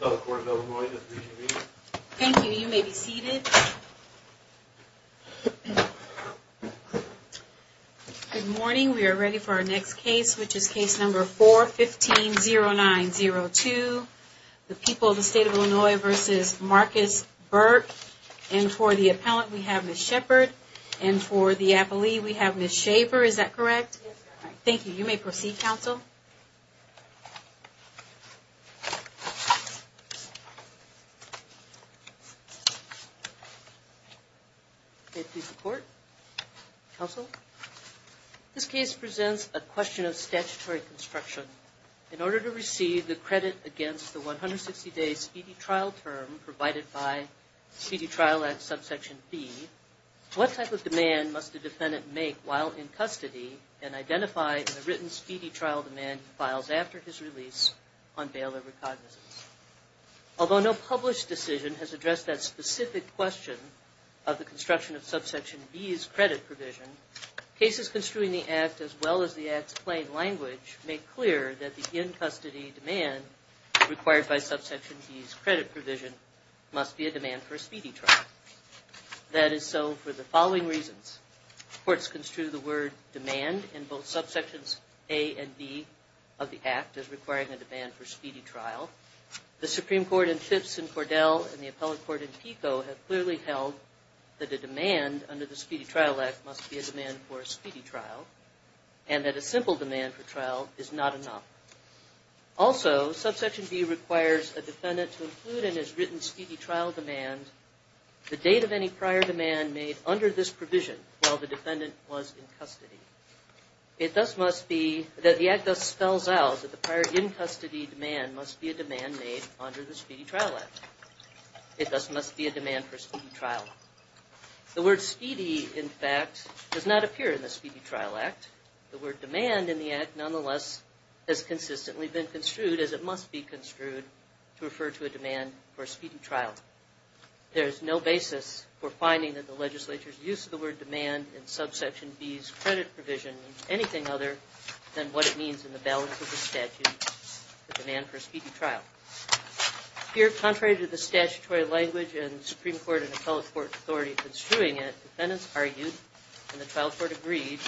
Good morning, we are ready for our next case, which is case number 4-15-09-02. The people of the state of Illinois v. Marcus Burke. And for the appellant, we have Ms. Shepard. And for the appellee, we have Ms. Shaver. Is that correct? Yes, ma'am. Thank you. You may proceed, counsel. May it please the court. Counsel. This case presents a question of statutory construction. In order to receive the credit against the 160-day speedy trial term provided by Speedy Trial Act Subsection B, what type of demand must a defendant make while in custody and identify in the written speedy trial demand he files after his release on bail over cognizance? Although no published decision has addressed that specific question of the construction of Subsection B's credit provision, cases construing the Act as well as the Act's plain language make clear that the in-custody demand required by Subsection B's credit provision must be a demand for a speedy trial. That is so for the following reasons. Courts construe the word demand in both Subsections A and B of the Act as requiring a demand for speedy trial. The Supreme Court in Phipps and Cordell and the appellate court in Pico have clearly held that a demand under the Speedy Trial Act must be a demand for a speedy trial and that a simple demand for trial is not enough. Also, Subsection B requires a defendant to include in his written speedy trial demand the date of any prior demand made under this provision while the defendant was in custody. It thus must be that the Act thus spells out that the prior in-custody demand must be a demand made under the Speedy Trial Act. It thus must be a demand for speedy trial. The word speedy, in fact, does not appear in the Speedy Trial Act. The word demand in the Act, nonetheless, has consistently been construed as it must be construed to refer to a demand for a speedy trial. There is no basis for finding that the legislature's use of the word demand in Subsection B's credit provision means anything other than what it means in the balance of the statute, the demand for a speedy trial. Here contrary to the statutory language and the Supreme Court and appellate court authority that is construing it, defendants argued, and the trial court agreed,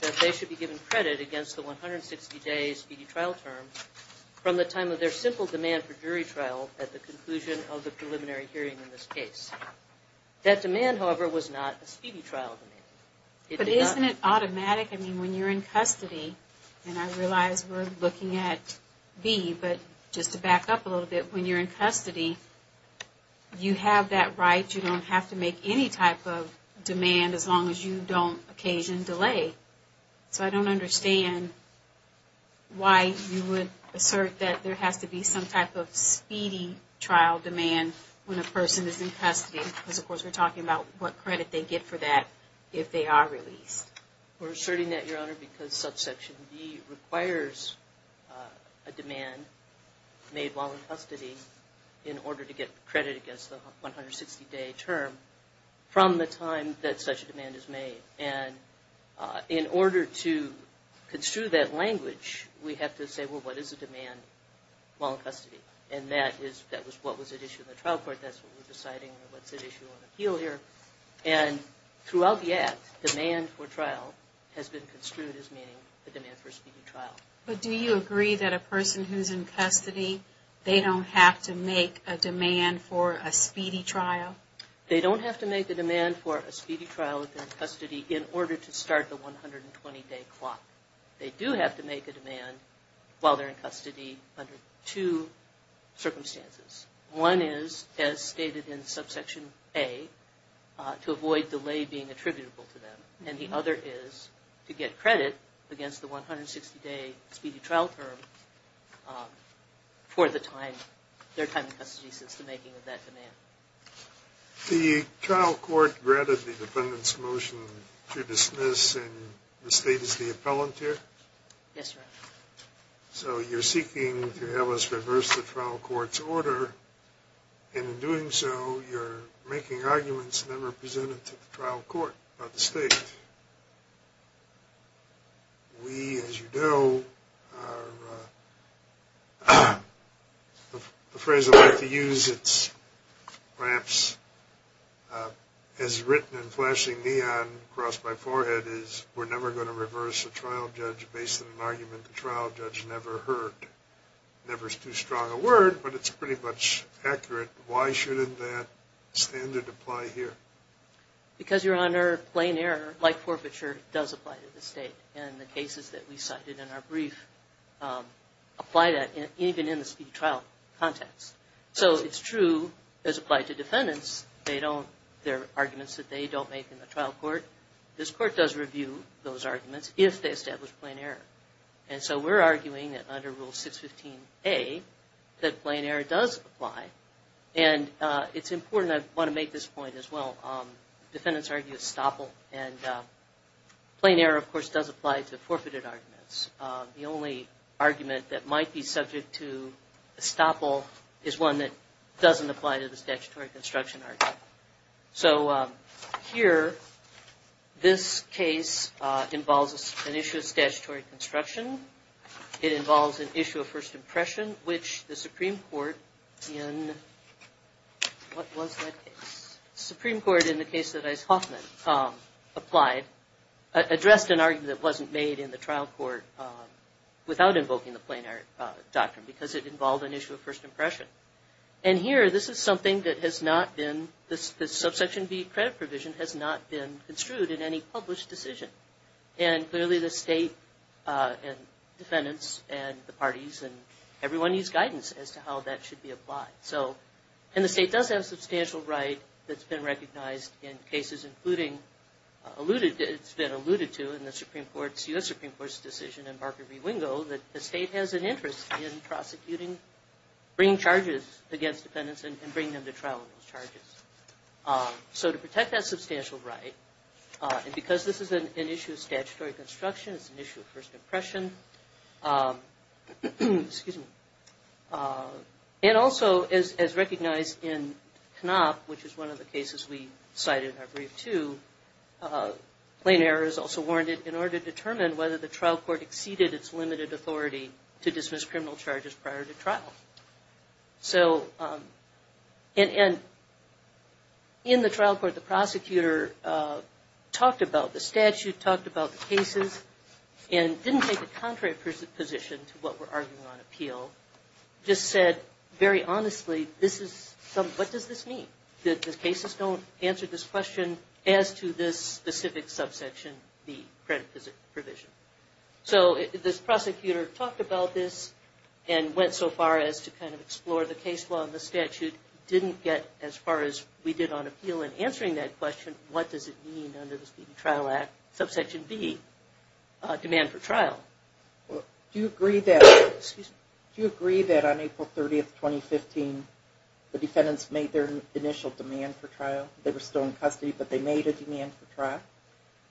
that they should be given credit against the 160-day speedy trial term from the time of their simple demand for jury trial at the conclusion of the preliminary hearing in this case. That demand, however, was not a speedy trial demand. It did not... But isn't it automatic? I mean, when you're in custody, and I realize we're looking at B, but just to back up a little bit, when you're in custody, you have that right, you don't have to make any type of demand as long as you don't occasion delay. So I don't understand why you would assert that there has to be some type of speedy trial demand when a person is in custody, because, of course, we're talking about what credit they get for that if they are released. We're asserting that, Your Honor, because Subsection B requires a demand made while in custody in order to get credit against the 160-day term from the time that such a demand is made. And in order to construe that language, we have to say, well, what is the demand while in custody? And that was what was at issue in the trial court. That's what we're deciding, what's at issue on appeal here. And throughout the Act, demand for trial has been construed as meaning the demand for a speedy trial. But do you agree that a person who's in custody, they don't have to make a demand for a speedy trial? They don't have to make a demand for a speedy trial within custody in order to start the 120-day clock. They do have to make a demand while they're in custody under two circumstances. One is, as stated in Subsection A, to avoid delay being attributable to them. And the other is to get credit against the 160-day speedy trial term for the time, their time in custody since the making of that demand. The trial court granted the defendant's motion to dismiss, and the state is the appellant here? Yes, Your Honor. So you're seeking to have us reverse the trial court's order, and in doing so, you're making arguments never presented to the trial court by the state. We, as you know, are, the phrase I like to use, it's perhaps as written in flashing neon across my forehead is, we're never going to reverse a trial judge based on an argument the trial judge never heard. Never is too strong a word, but it's pretty much accurate. Why shouldn't that standard apply here? Because, Your Honor, plain error, like forfeiture, does apply to the state. And the cases that we cited in our brief apply that even in the speedy trial context. So it's true, as applied to defendants, there are arguments that they don't make in the trial court. This court does review those arguments if they establish plain error. And so we're arguing that under Rule 615A, that plain error does apply. And it's important, I want to make this point as well, defendants argue estoppel, and plain error, of course, does apply to forfeited arguments. The only argument that might be subject to estoppel is one that doesn't apply to the statutory construction argument. So here, this case involves an issue of statutory construction. It involves an issue of first impression, which the Supreme Court in, what was that case? The Supreme Court in the case that Ice Hoffman applied, addressed an argument that wasn't made in the trial court without invoking the plain error doctrine, because it involved an issue of first impression. And here, this is something that has not been, the subsection B credit provision has not been construed in any published decision. And clearly the state and defendants and the parties and everyone needs guidance as to how that should be applied. So, and the state does have a substantial right that's been recognized in cases including alluded to, it's been alluded to in the Supreme Court's, U.S. Supreme Court's decision in bringing charges against defendants and bringing them to trial with those charges. So to protect that substantial right, and because this is an issue of statutory construction, it's an issue of first impression, excuse me, and also as recognized in Knopp, which is one of the cases we cited in our brief too, plain error is also warranted in order to determine whether the trial court exceeded its limited authority to dismiss criminal charges prior to trial. So, and in the trial court, the prosecutor talked about the statute, talked about the cases, and didn't take a contrary position to what we're arguing on appeal, just said very honestly, this is, what does this mean? The cases don't answer this question as to this specific subsection B credit provision. So, this prosecutor talked about this and went so far as to kind of explore the case law and the statute, didn't get as far as we did on appeal in answering that question, what does it mean under the Speedy Trial Act, subsection B, demand for trial? Well, do you agree that, excuse me, do you agree that on April 30, 2015, the defendants made their initial demand for trial? They were still in custody, but they made a demand for trial?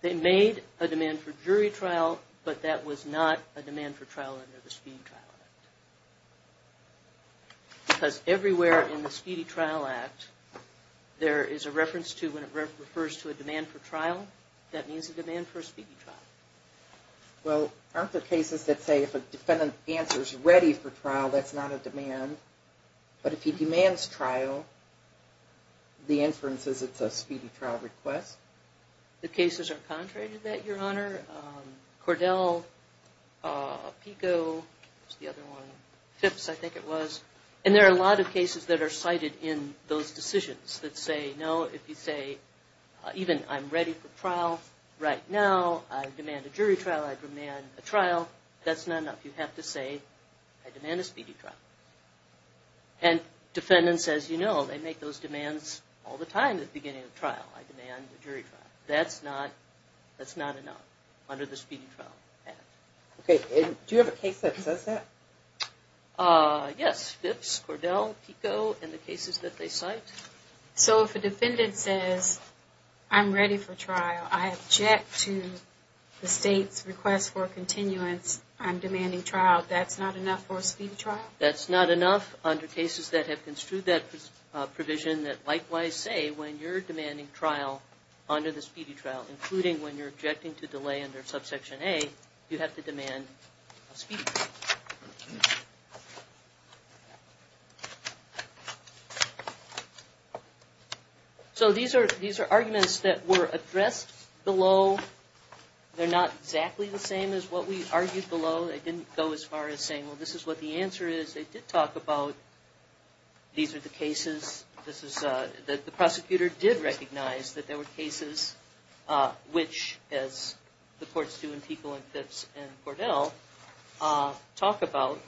They made a demand for jury trial, but that was not a demand for trial under the Speedy Trial Act. Because everywhere in the Speedy Trial Act, there is a reference to, when it refers to a demand for trial, that means a demand for a speedy trial. Well, aren't there cases that say if a defendant answers ready for trial, that's not a demand, but if he demands trial, the inference is it's a speedy trial request? The cases are contrary to that, Your Honor. Cordell, Pico, what's the other one? Phipps, I think it was. And there are a lot of cases that are cited in those decisions that say, no, if you say, even I'm ready for trial right now, I demand a jury trial, I demand a trial, that's not enough. You have to say, I demand a speedy trial. And defendants, as you know, they make those demands all the time at the beginning of trial. I demand a jury trial. That's not enough under the Speedy Trial Act. Okay. Do you have a case that says that? Phipps, Cordell, Pico, and the cases that they cite. So if a defendant says, I'm ready for trial, I object to the state's request for continuance, I'm demanding trial, that's not enough for a speedy trial? That's not enough under cases that have construed that provision that likewise say, when you're objecting to trial under the speedy trial, including when you're objecting to delay under Subsection A, you have to demand a speedy trial. So these are arguments that were addressed below. They're not exactly the same as what we argued below. They didn't go as far as saying, well, this is what the answer is. They did talk about, these are the cases. This is, the prosecutor did recognize that there were cases which, as the courts do in Pico and Phipps and Cordell, talk about,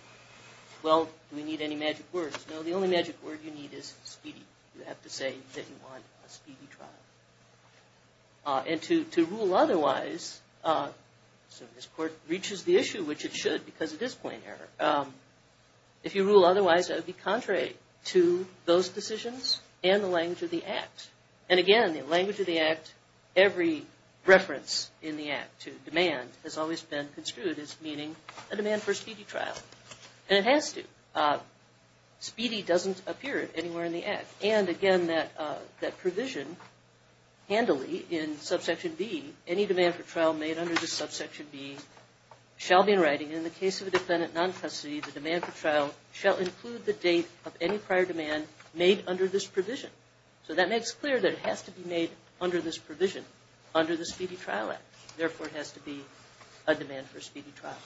well, do we need any magic words? No, the only magic word you need is speedy. You have to say that you want a speedy trial. And to rule otherwise, so this court reaches the issue, which it should, because it is to rule otherwise, it would be contrary to those decisions and the language of the Act. And again, the language of the Act, every reference in the Act to demand has always been construed as meaning a demand for a speedy trial. And it has to. Speedy doesn't appear anywhere in the Act. And again, that provision handily in Subsection B, any demand for trial made under the Subsection B shall be in writing. And in the case of a defendant non-custody, the demand for trial shall include the date of any prior demand made under this provision. So that makes clear that it has to be made under this provision, under the Speedy Trial Act. Therefore, it has to be a demand for a speedy trial.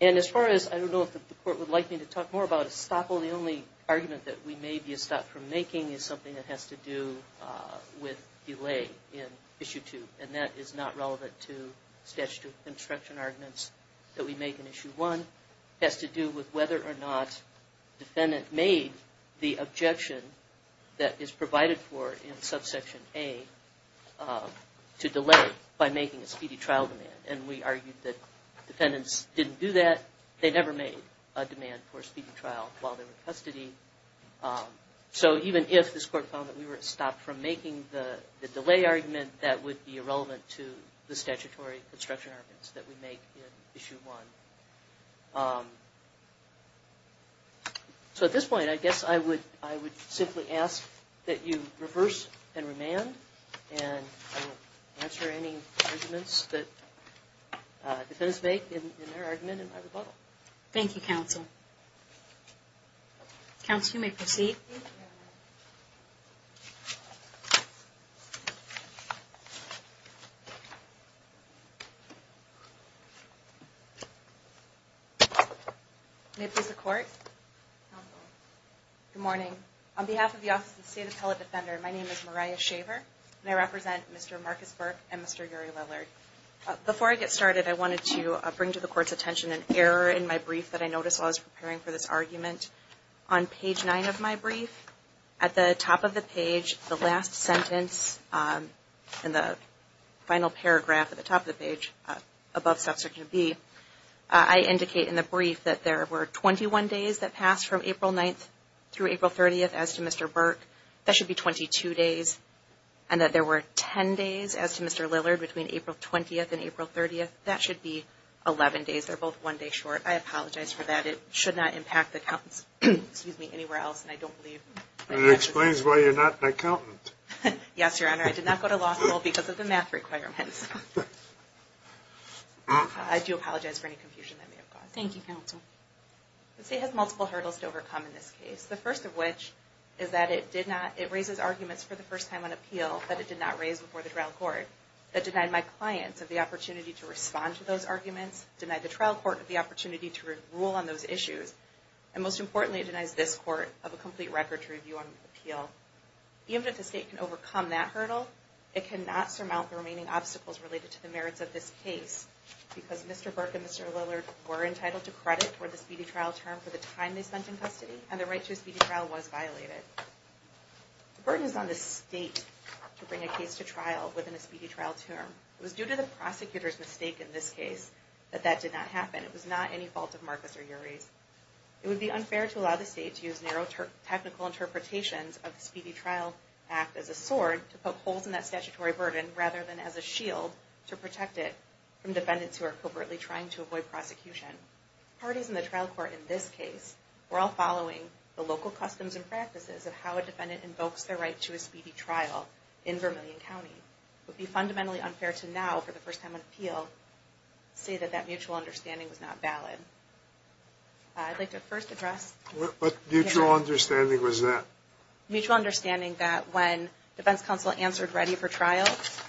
And as far as, I don't know if the court would like me to talk more about estoppel, the only argument that we may be estopped from making is something that has to do with delay in Issue 2. And that is not relevant to statutory obstruction arguments that we make in Issue 1. It has to do with whether or not the defendant made the objection that is provided for in Subsection A to delay by making a speedy trial demand. And we argued that defendants didn't do that. They never made a demand for a speedy trial while they were in custody. So even if this court found that we were stopped from making the delay argument, that would be irrelevant to the statutory obstruction arguments that we make in Issue 1. So at this point, I guess I would simply ask that you reverse and remand, and I will answer any arguments that defendants make in their argument and my rebuttal. Thank you, Counsel. Counsel, you may proceed. May it please the Court? Counsel. Good morning. On behalf of the Office of the State Appellate Defender, my name is Mariah Shaver, and I represent Mr. Marcus Burke and Mr. Uri Lillard. Before I get started, I wanted to bring to the Court's attention an error in my brief that I noticed while I was preparing for this argument. On page 9 of my brief, at the top of the page, the last sentence, in the final paragraph at the top of the page above Subsection B, I indicate in the brief that there were 21 days that passed from April 9th through April 30th as to Mr. Burke. That should be 22 days, and that there were 10 days as to Mr. Lillard between April 20th and April 30th. That should be 11 days. They're both one day short. I apologize for that. It should not impact the accountants anywhere else, and I don't believe... It explains why you're not an accountant. Yes, Your Honor. I did not go to law school because of the math requirements. I do apologize for any confusion that may have caused. Thank you, Counsel. The State has multiple hurdles to overcome in this case, the first of which is that it raises arguments for the first time on appeal that it did not raise before the trial court that denied my clients of the opportunity to respond to those arguments, denied the trial court of the opportunity to rule on those issues, and most importantly, it denies this Court of a complete record to review on appeal. Even if the State can overcome that hurdle, it cannot surmount the remaining obstacles related to the merits of this case because Mr. Burke and Mr. Lillard were entitled to credit for the speedy trial term for the time they spent in custody, and the right to a speedy trial was violated. The burden is on the State to bring a case to trial within a speedy trial term. It was due to the prosecutor's mistake in this case that that did not happen. It was not any fault of Marcus or Yuri's. It would be unfair to allow the State to use narrow technical interpretations of the Speedy Trial Act as a sword to poke holes in that statutory burden rather than as a shield to protect it from defendants who are covertly trying to avoid prosecution. Parties in the trial court in this case were all following the local customs and practices of how a defendant invokes their right to a speedy trial in Vermillion County. It would be fundamentally unfair to now, for the first time on appeal, say that that mutual understanding was not valid. I'd like to first address... What mutual understanding was that? Mutual understanding that when defense counsel answered ready for trial,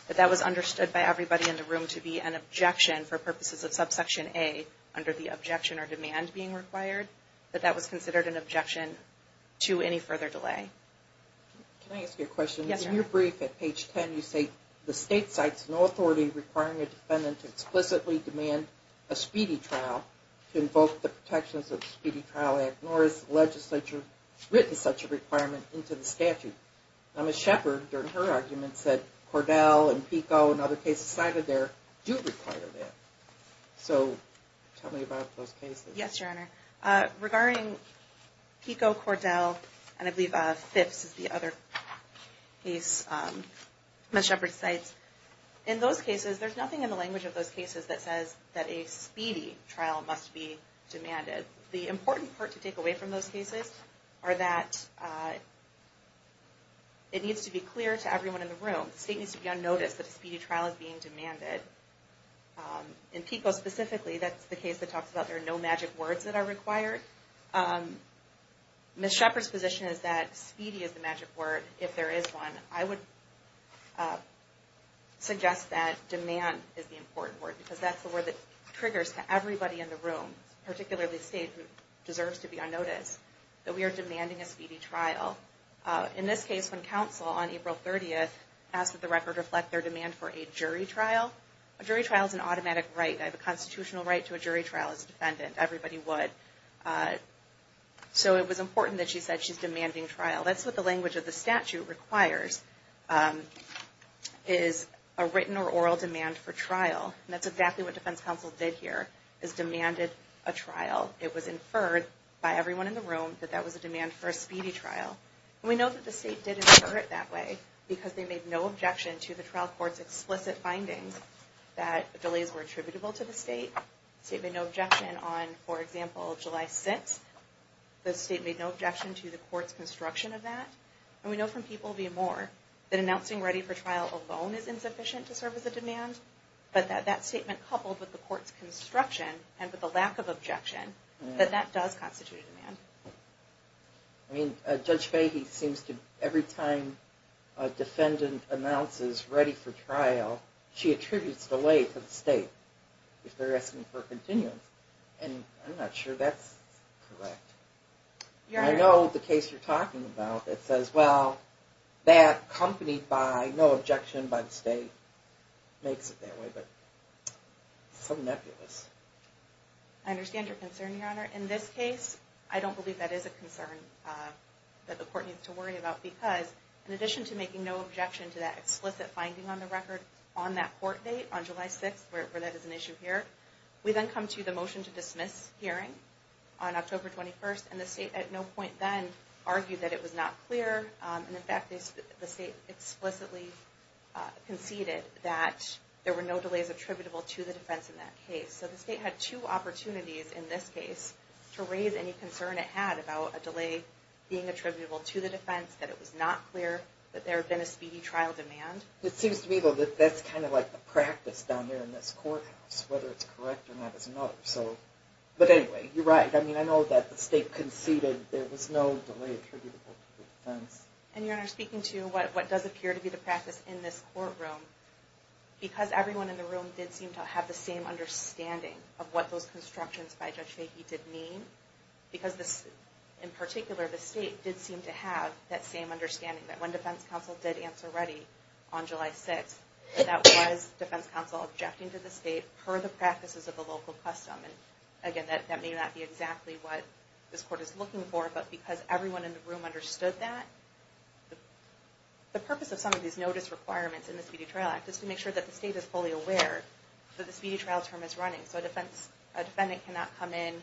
that that was understood by everybody in the room to be an objection for purposes of subsection A under the objection or demand being required, that that was considered an objection to any further delay. Can I ask you a question? Yes, ma'am. In your brief at page 10, you say the State cites no authority requiring a defendant to explicitly demand a speedy trial to invoke the protections of the Speedy Trial Act, nor has the legislature written such a requirement into the statute. Now, Ms. Shepherd, during her argument, said Cordell and Pico and other cases cited there do require that. So, tell me about those cases. Yes, Your Honor. Regarding Pico, Cordell, and I believe Fifth's is the other case Ms. Shepherd cites, in those cases, there's nothing in the language of those cases that says that a speedy trial must be demanded. The important part to take away from those cases are that it needs to be clear to everyone in the room. The state needs to be on notice that a speedy trial is being demanded. In Pico specifically, that's the case that talks about there are no magic words that are required. Ms. Shepherd's position is that speedy is the magic word if there is one. I would suggest that demand is the important word, because that's the word that triggers to everybody in the room, particularly the state who deserves to be on notice, that we are demanding a speedy trial. In this case, when counsel on April 30th asked that the record reflect their demand for a jury trial. A jury trial is an automatic right. I have a constitutional right to a jury trial as a defendant. Everybody would. So, it was important that she said she's demanding trial. That's what the language of the statute requires, is a written or oral demand for trial. That's exactly what defense counsel did here, is demanded a trial. It was inferred by everyone in the room that that was a demand for a speedy trial. We know that the state did infer it that way, because they made no objection to the trial court's explicit findings that delays were attributable to the state. The state made no objection on, for example, July 6th. The state made no objection to the court's construction of that. And we know from people via Moore that announcing ready for trial alone is insufficient to serve as a demand. But that statement coupled with the court's construction and with the lack of objection, that that does constitute a demand. I mean, Judge Fahey seems to, every time a defendant announces ready for trial, she attributes delay to the state if they're asking for a continuance. And I'm not sure that's correct. I know the case you're talking about that says, well, that accompanied by no objection by the state makes it that way. But some nebulous. I understand your concern, Your Honor. In this case, I don't believe that is a concern that the court needs to worry about, because in addition to making no objection to that explicit finding on the record on that court date on July 6th, where that is an issue here, we then come to the motion to dismiss hearing on October 21st, and the state at no point then argued that it was not clear. And in fact, the state explicitly conceded that there were no delays attributable to the defense in that case. So the state had two opportunities in this case to raise any concern it had about a delay being attributable to the defense, that it was not clear that there had been a speedy trial demand. It seems to me, though, that that's kind of like the practice down here in this courthouse, whether it's correct or not is another. But anyway, you're right. I mean, I know that the state conceded there was no delay attributable to the defense. And Your Honor, speaking to what does appear to be the practice in this courtroom, because everyone in the room did seem to have the same understanding of what those constructions by Judge Fahey did mean, because in particular, the state did seem to have that same understanding that when defense counsel did answer ready on July 6th, that was defense counsel objecting to the state per the practices of the local custom. And again, that may not be exactly what this court is looking for, but because everyone in the room understood that, the purpose of some of these notice requirements in the Speedy Trial Act is to make sure that the state is fully aware that the speedy trial term is running. So a defendant cannot come in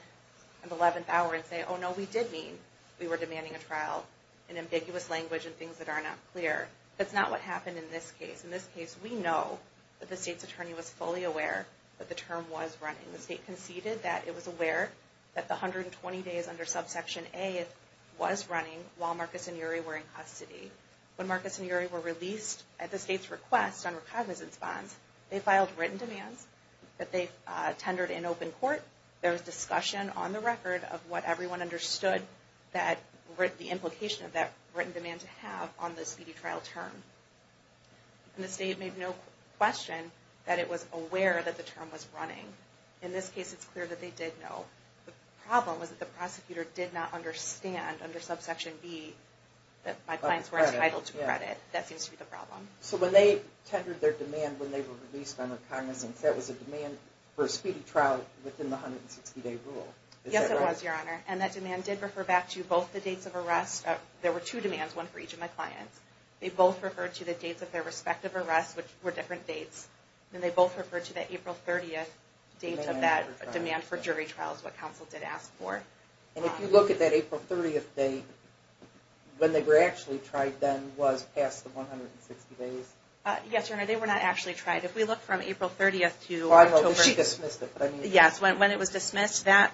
on the 11th hour and say, oh no, we did mean we were demanding a trial in ambiguous language and things that are not clear. That's not what happened in this case. In this case, we know that the state's attorney was fully aware that the term was running. The state conceded that it was aware that the 120 days under subsection A was running while Marcus and Uri were in custody. When Marcus and Uri were released at the state's request on recognizance bonds, they filed written demands that they tendered in open court. There was discussion on the record of what everyone understood the implication of that written demand to have on the speedy trial term. And the state made no question that it was aware that the term was running. In this case, it's clear that they did know. The problem was that the prosecutor did not understand under subsection B that my clients were entitled to credit. That seems to be the problem. So when they tendered their demand when they were released on recognizance, that was a demand for a speedy trial within the 160-day rule. Yes, it was, Your Honor. And that demand did refer back to both the dates of arrest. There were two demands, one for each of my clients. They both referred to the dates of their respective arrests, which were different dates. And they both referred to that April 30th date of that demand for jury trials, what counsel did ask for. And if you look at that April 30th date, when they were actually tried then was past the 160 days? Yes, Your Honor, they were not actually tried. If we look from April 30th to October... She dismissed it, but I mean... Yes, when it was dismissed, that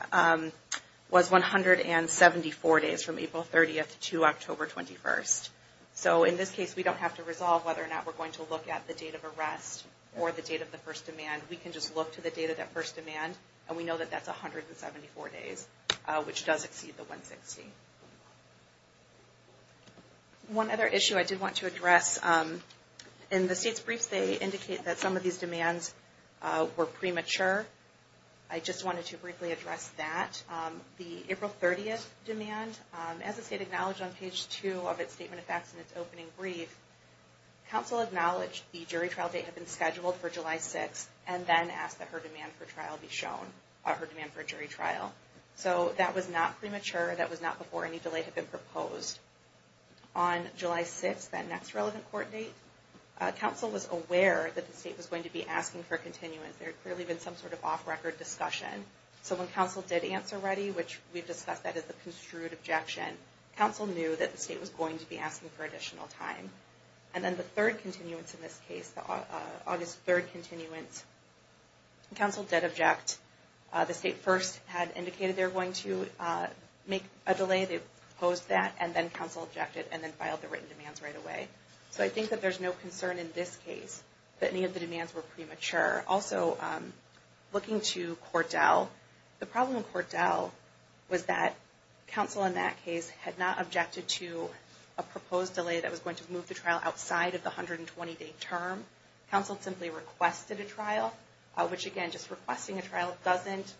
was 174 days from April 30th to October 21st. So in this case, we don't have to resolve whether or not we're going to look at the date of arrest or the date of the first demand. We can just look to the date of that first demand and we know that that's 174 days, which does exceed the 160. One other issue I did want to address. In the state's briefs, they indicate that some of these demands were premature. I just wanted to briefly address that. The April 30th demand, as the state acknowledged on page 2 of its Statement of Facts and its opening brief, counsel acknowledged the jury trial date had been scheduled for July 6th and then asked that her demand for jury trial be shown. So that was not premature, that was not before any delay had been proposed. On July 6th, that next relevant court date, counsel was aware that the state was going to be asking for continuance. There had clearly been some sort of off-record discussion. So when counsel did answer ready, which we've discussed that as the construed objection, counsel knew that the state was going to be asking for additional time. And then the third continuance in this case, the August 3rd continuance, counsel did object. The state first had indicated they were going to make a delay, they proposed that, and then counsel objected and then filed the written demands right away. So I think that there's no concern in this case that any of the demands were premature. Also, looking to Cordell, the problem with Cordell was that counsel in that case had not objected to a proposed delay that was going to move the trial outside of the 120-day term. Counsel simply requested a trial, which again, just requesting a trial doesn't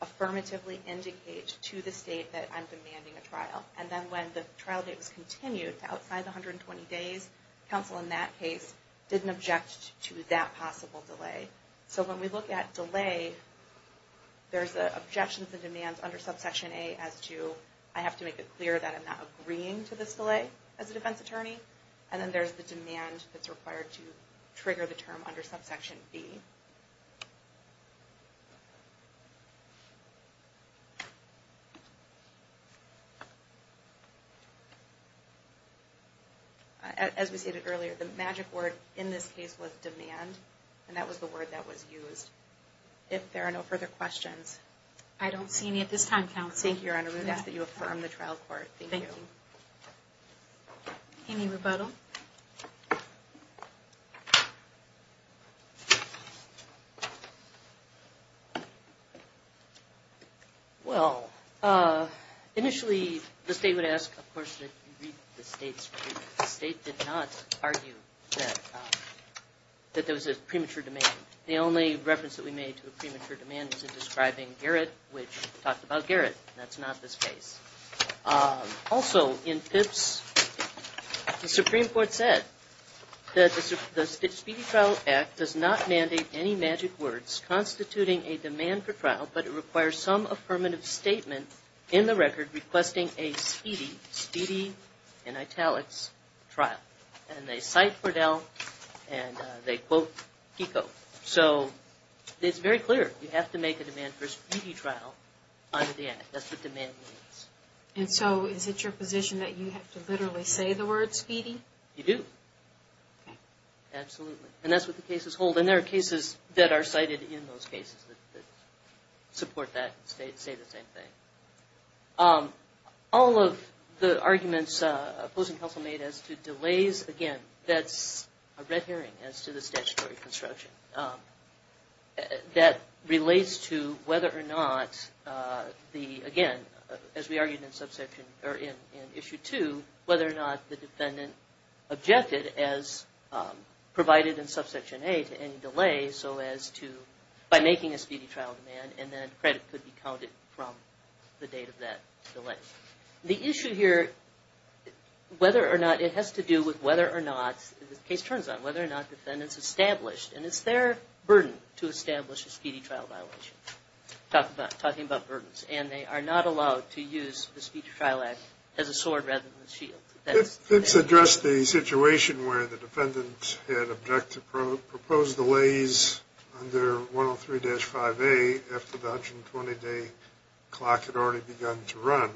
affirmatively indicate to the state that I'm demanding a trial. And then when the trial date was continued to outside the 120 days, counsel in that case didn't object to that possible delay. So when we look at delay, there's objections and demands under subsection A as to, I have to make it clear that I'm not agreeing to this delay as a defense attorney. And then there's the demand that's required to trigger the term under subsection B. As we stated earlier, the magic word in this case was demand. And that was the word that was used. If there are no further questions... I don't see any at this time, counsel. Thank you, Your Honor. We ask that you affirm the trial court. Thank you. Any rebuttal? Well, initially, the state would ask, of course, that you read the state's ruling. The state did not argue that there was a premature demand. The only reference that we made to a premature demand was in describing Garrett, which talked about Garrett. That's not this case. Also, in Pipps, the Supreme Court said that the Speedy Trial Act does not mandate any magic word constituting a demand for trial, but it requires some affirmative statement in the record requesting a speedy, speedy in italics, trial. And they cite Fordell and they quote Pico. So, it's very clear. You have to make a demand for a speedy trial under the Act. That's what demand means. And so, is it your position that you have to literally say the word speedy? You do. Absolutely. And that's what the cases that support that state say the same thing. All of the arguments opposing counsel made as to delays, again, that's a red herring as to the statutory construction that relates to whether or not the, again, as we argued in subsection, or in issue two, whether or not the defendant objected as provided in subsection A to any delay so as to by making a speedy trial demand and then credit could be counted from the date of that delay. The issue here, whether or not, it has to do with whether or not, as the case turns out, whether or not defendants established, and it's their burden to establish a speedy trial violation. Talking about burdens. And they are not allowed to use the Speedy Trial Act as a sword rather than a shield. If it's addressed the situation where the those delays under 103-5A after the 120-day clock had already begun to run,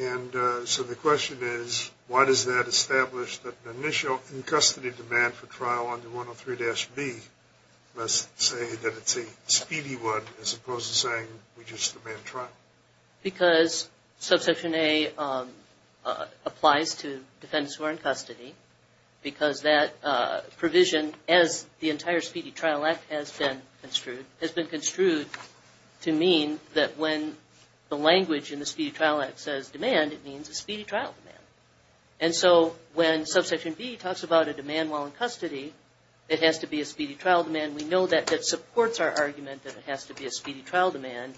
and so the question is, why does that establish that the initial in-custody demand for trial under 103-B must say that it's a speedy one as opposed to saying we just demand trial? Because subsection A applies to defendants who are in custody because that provision, as the entire Speedy Trial Act has been construed, to mean that when the language in the Speedy Trial Act says demand, it means a speedy trial demand. And so when subsection B talks about a demand while in custody, it has to be a speedy trial demand. We know that supports our argument that it has to be a speedy trial demand,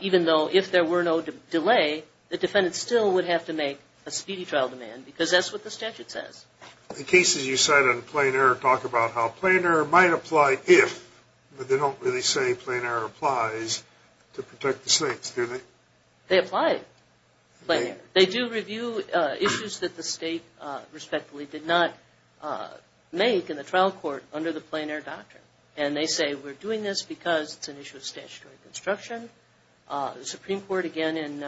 even though if there were no delay, the defendant still would have to make a speedy trial demand, as it says. In cases you cite on plain error, talk about how plain error might apply if, but they don't really say plain error applies to protect the states, do they? They apply plain error. They do review issues that the state, respectfully, did not make in the trial court under the plain error doctrine, and they say we're doing this because it's an issue of statutory construction. The Supreme Court, again, in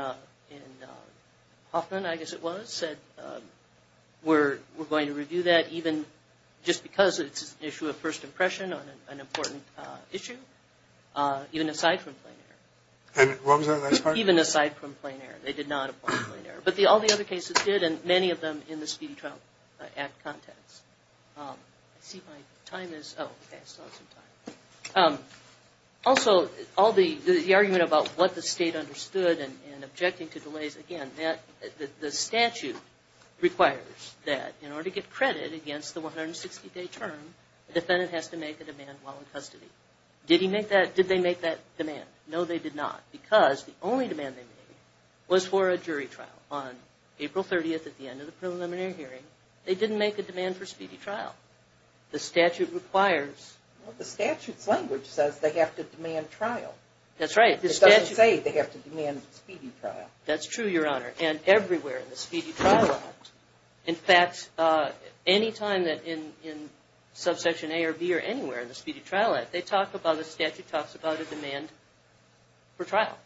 Hoffman, I guess it was, said we're going to review that even just because it's an issue of first impression on an important issue, even aside from plain error. And what was that last part? Even aside from plain error. They did not apply plain error. But all the other cases did, and many of them in the Speedy Trial Act context. Also, all the argument about what the state understood and objecting to delays, again, the statute requires that in order to get credit against the 160-day term, the defendant has to make a demand while in custody. Did they make that demand? No, they did not. Because the only demand they made was for a jury trial. On April 30th at the end of the preliminary hearing, they didn't make a demand for speedy trial. The statute requires The statute's language says they have to demand trial. That's right. It doesn't say they have to demand speedy trial. That's true, Your Honor. And everywhere in the Speedy Trial Act. In fact, any time that in subsection A or B or anywhere in the Speedy Trial Act, they talk about, the statute talks about a demand for trial.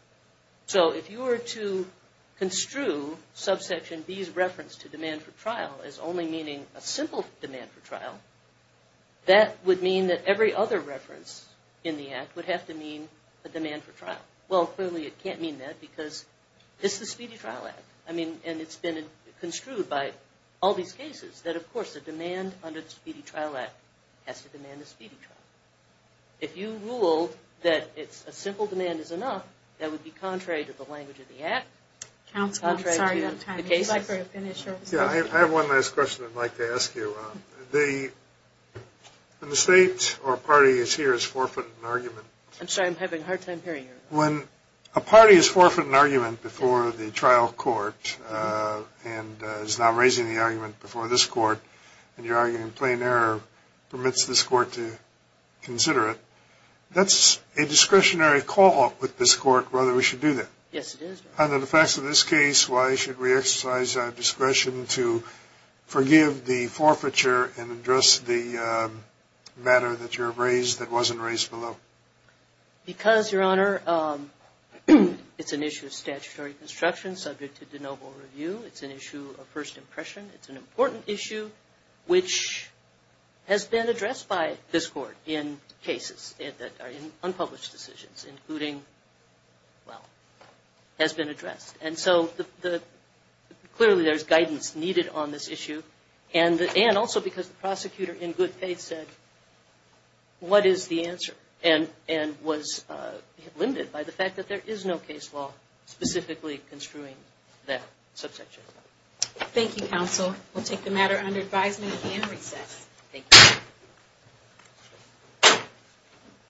So if you were to construe subsection B's reference to demand for trial as only meaning a simple demand for trial, that would mean that every other reference in the act would have to mean a demand for trial. Well, clearly it can't mean that because it's the Speedy Trial Act. And it's been construed by all these cases that of course the demand under the Speedy Trial Act has to demand a speedy trial. If you rule that a simple demand is enough, that would be contrary to the language of the act, contrary to the cases. I have one last question I'd like to ask you. The state or party that's here is forfeiting an argument. I'm sorry, I'm having a hard time hearing you. When a party is forfeiting an argument before the trial court and is now raising the argument before this court and you're arguing plain error permits this court to consider it, that's a discretionary call with this court whether we should do that. Yes, it is. Under the facts of this case, why should we exercise our discretion to forgive the forfeiture and address the matter that you have raised that wasn't raised below? Because, Your Honor, it's an issue of statutory construction subject to de novo review. It's an issue of first impression. It's an important issue which has been addressed by this court in cases that are unpublished decisions including well, has been addressed. Clearly there's guidance needed on this issue and also because the prosecutor in good faith said what is the answer and was limited by the fact that there is no case law specifically construing that subsection. Thank you, Counsel. We'll take the matter under advisement and recess. Thank you.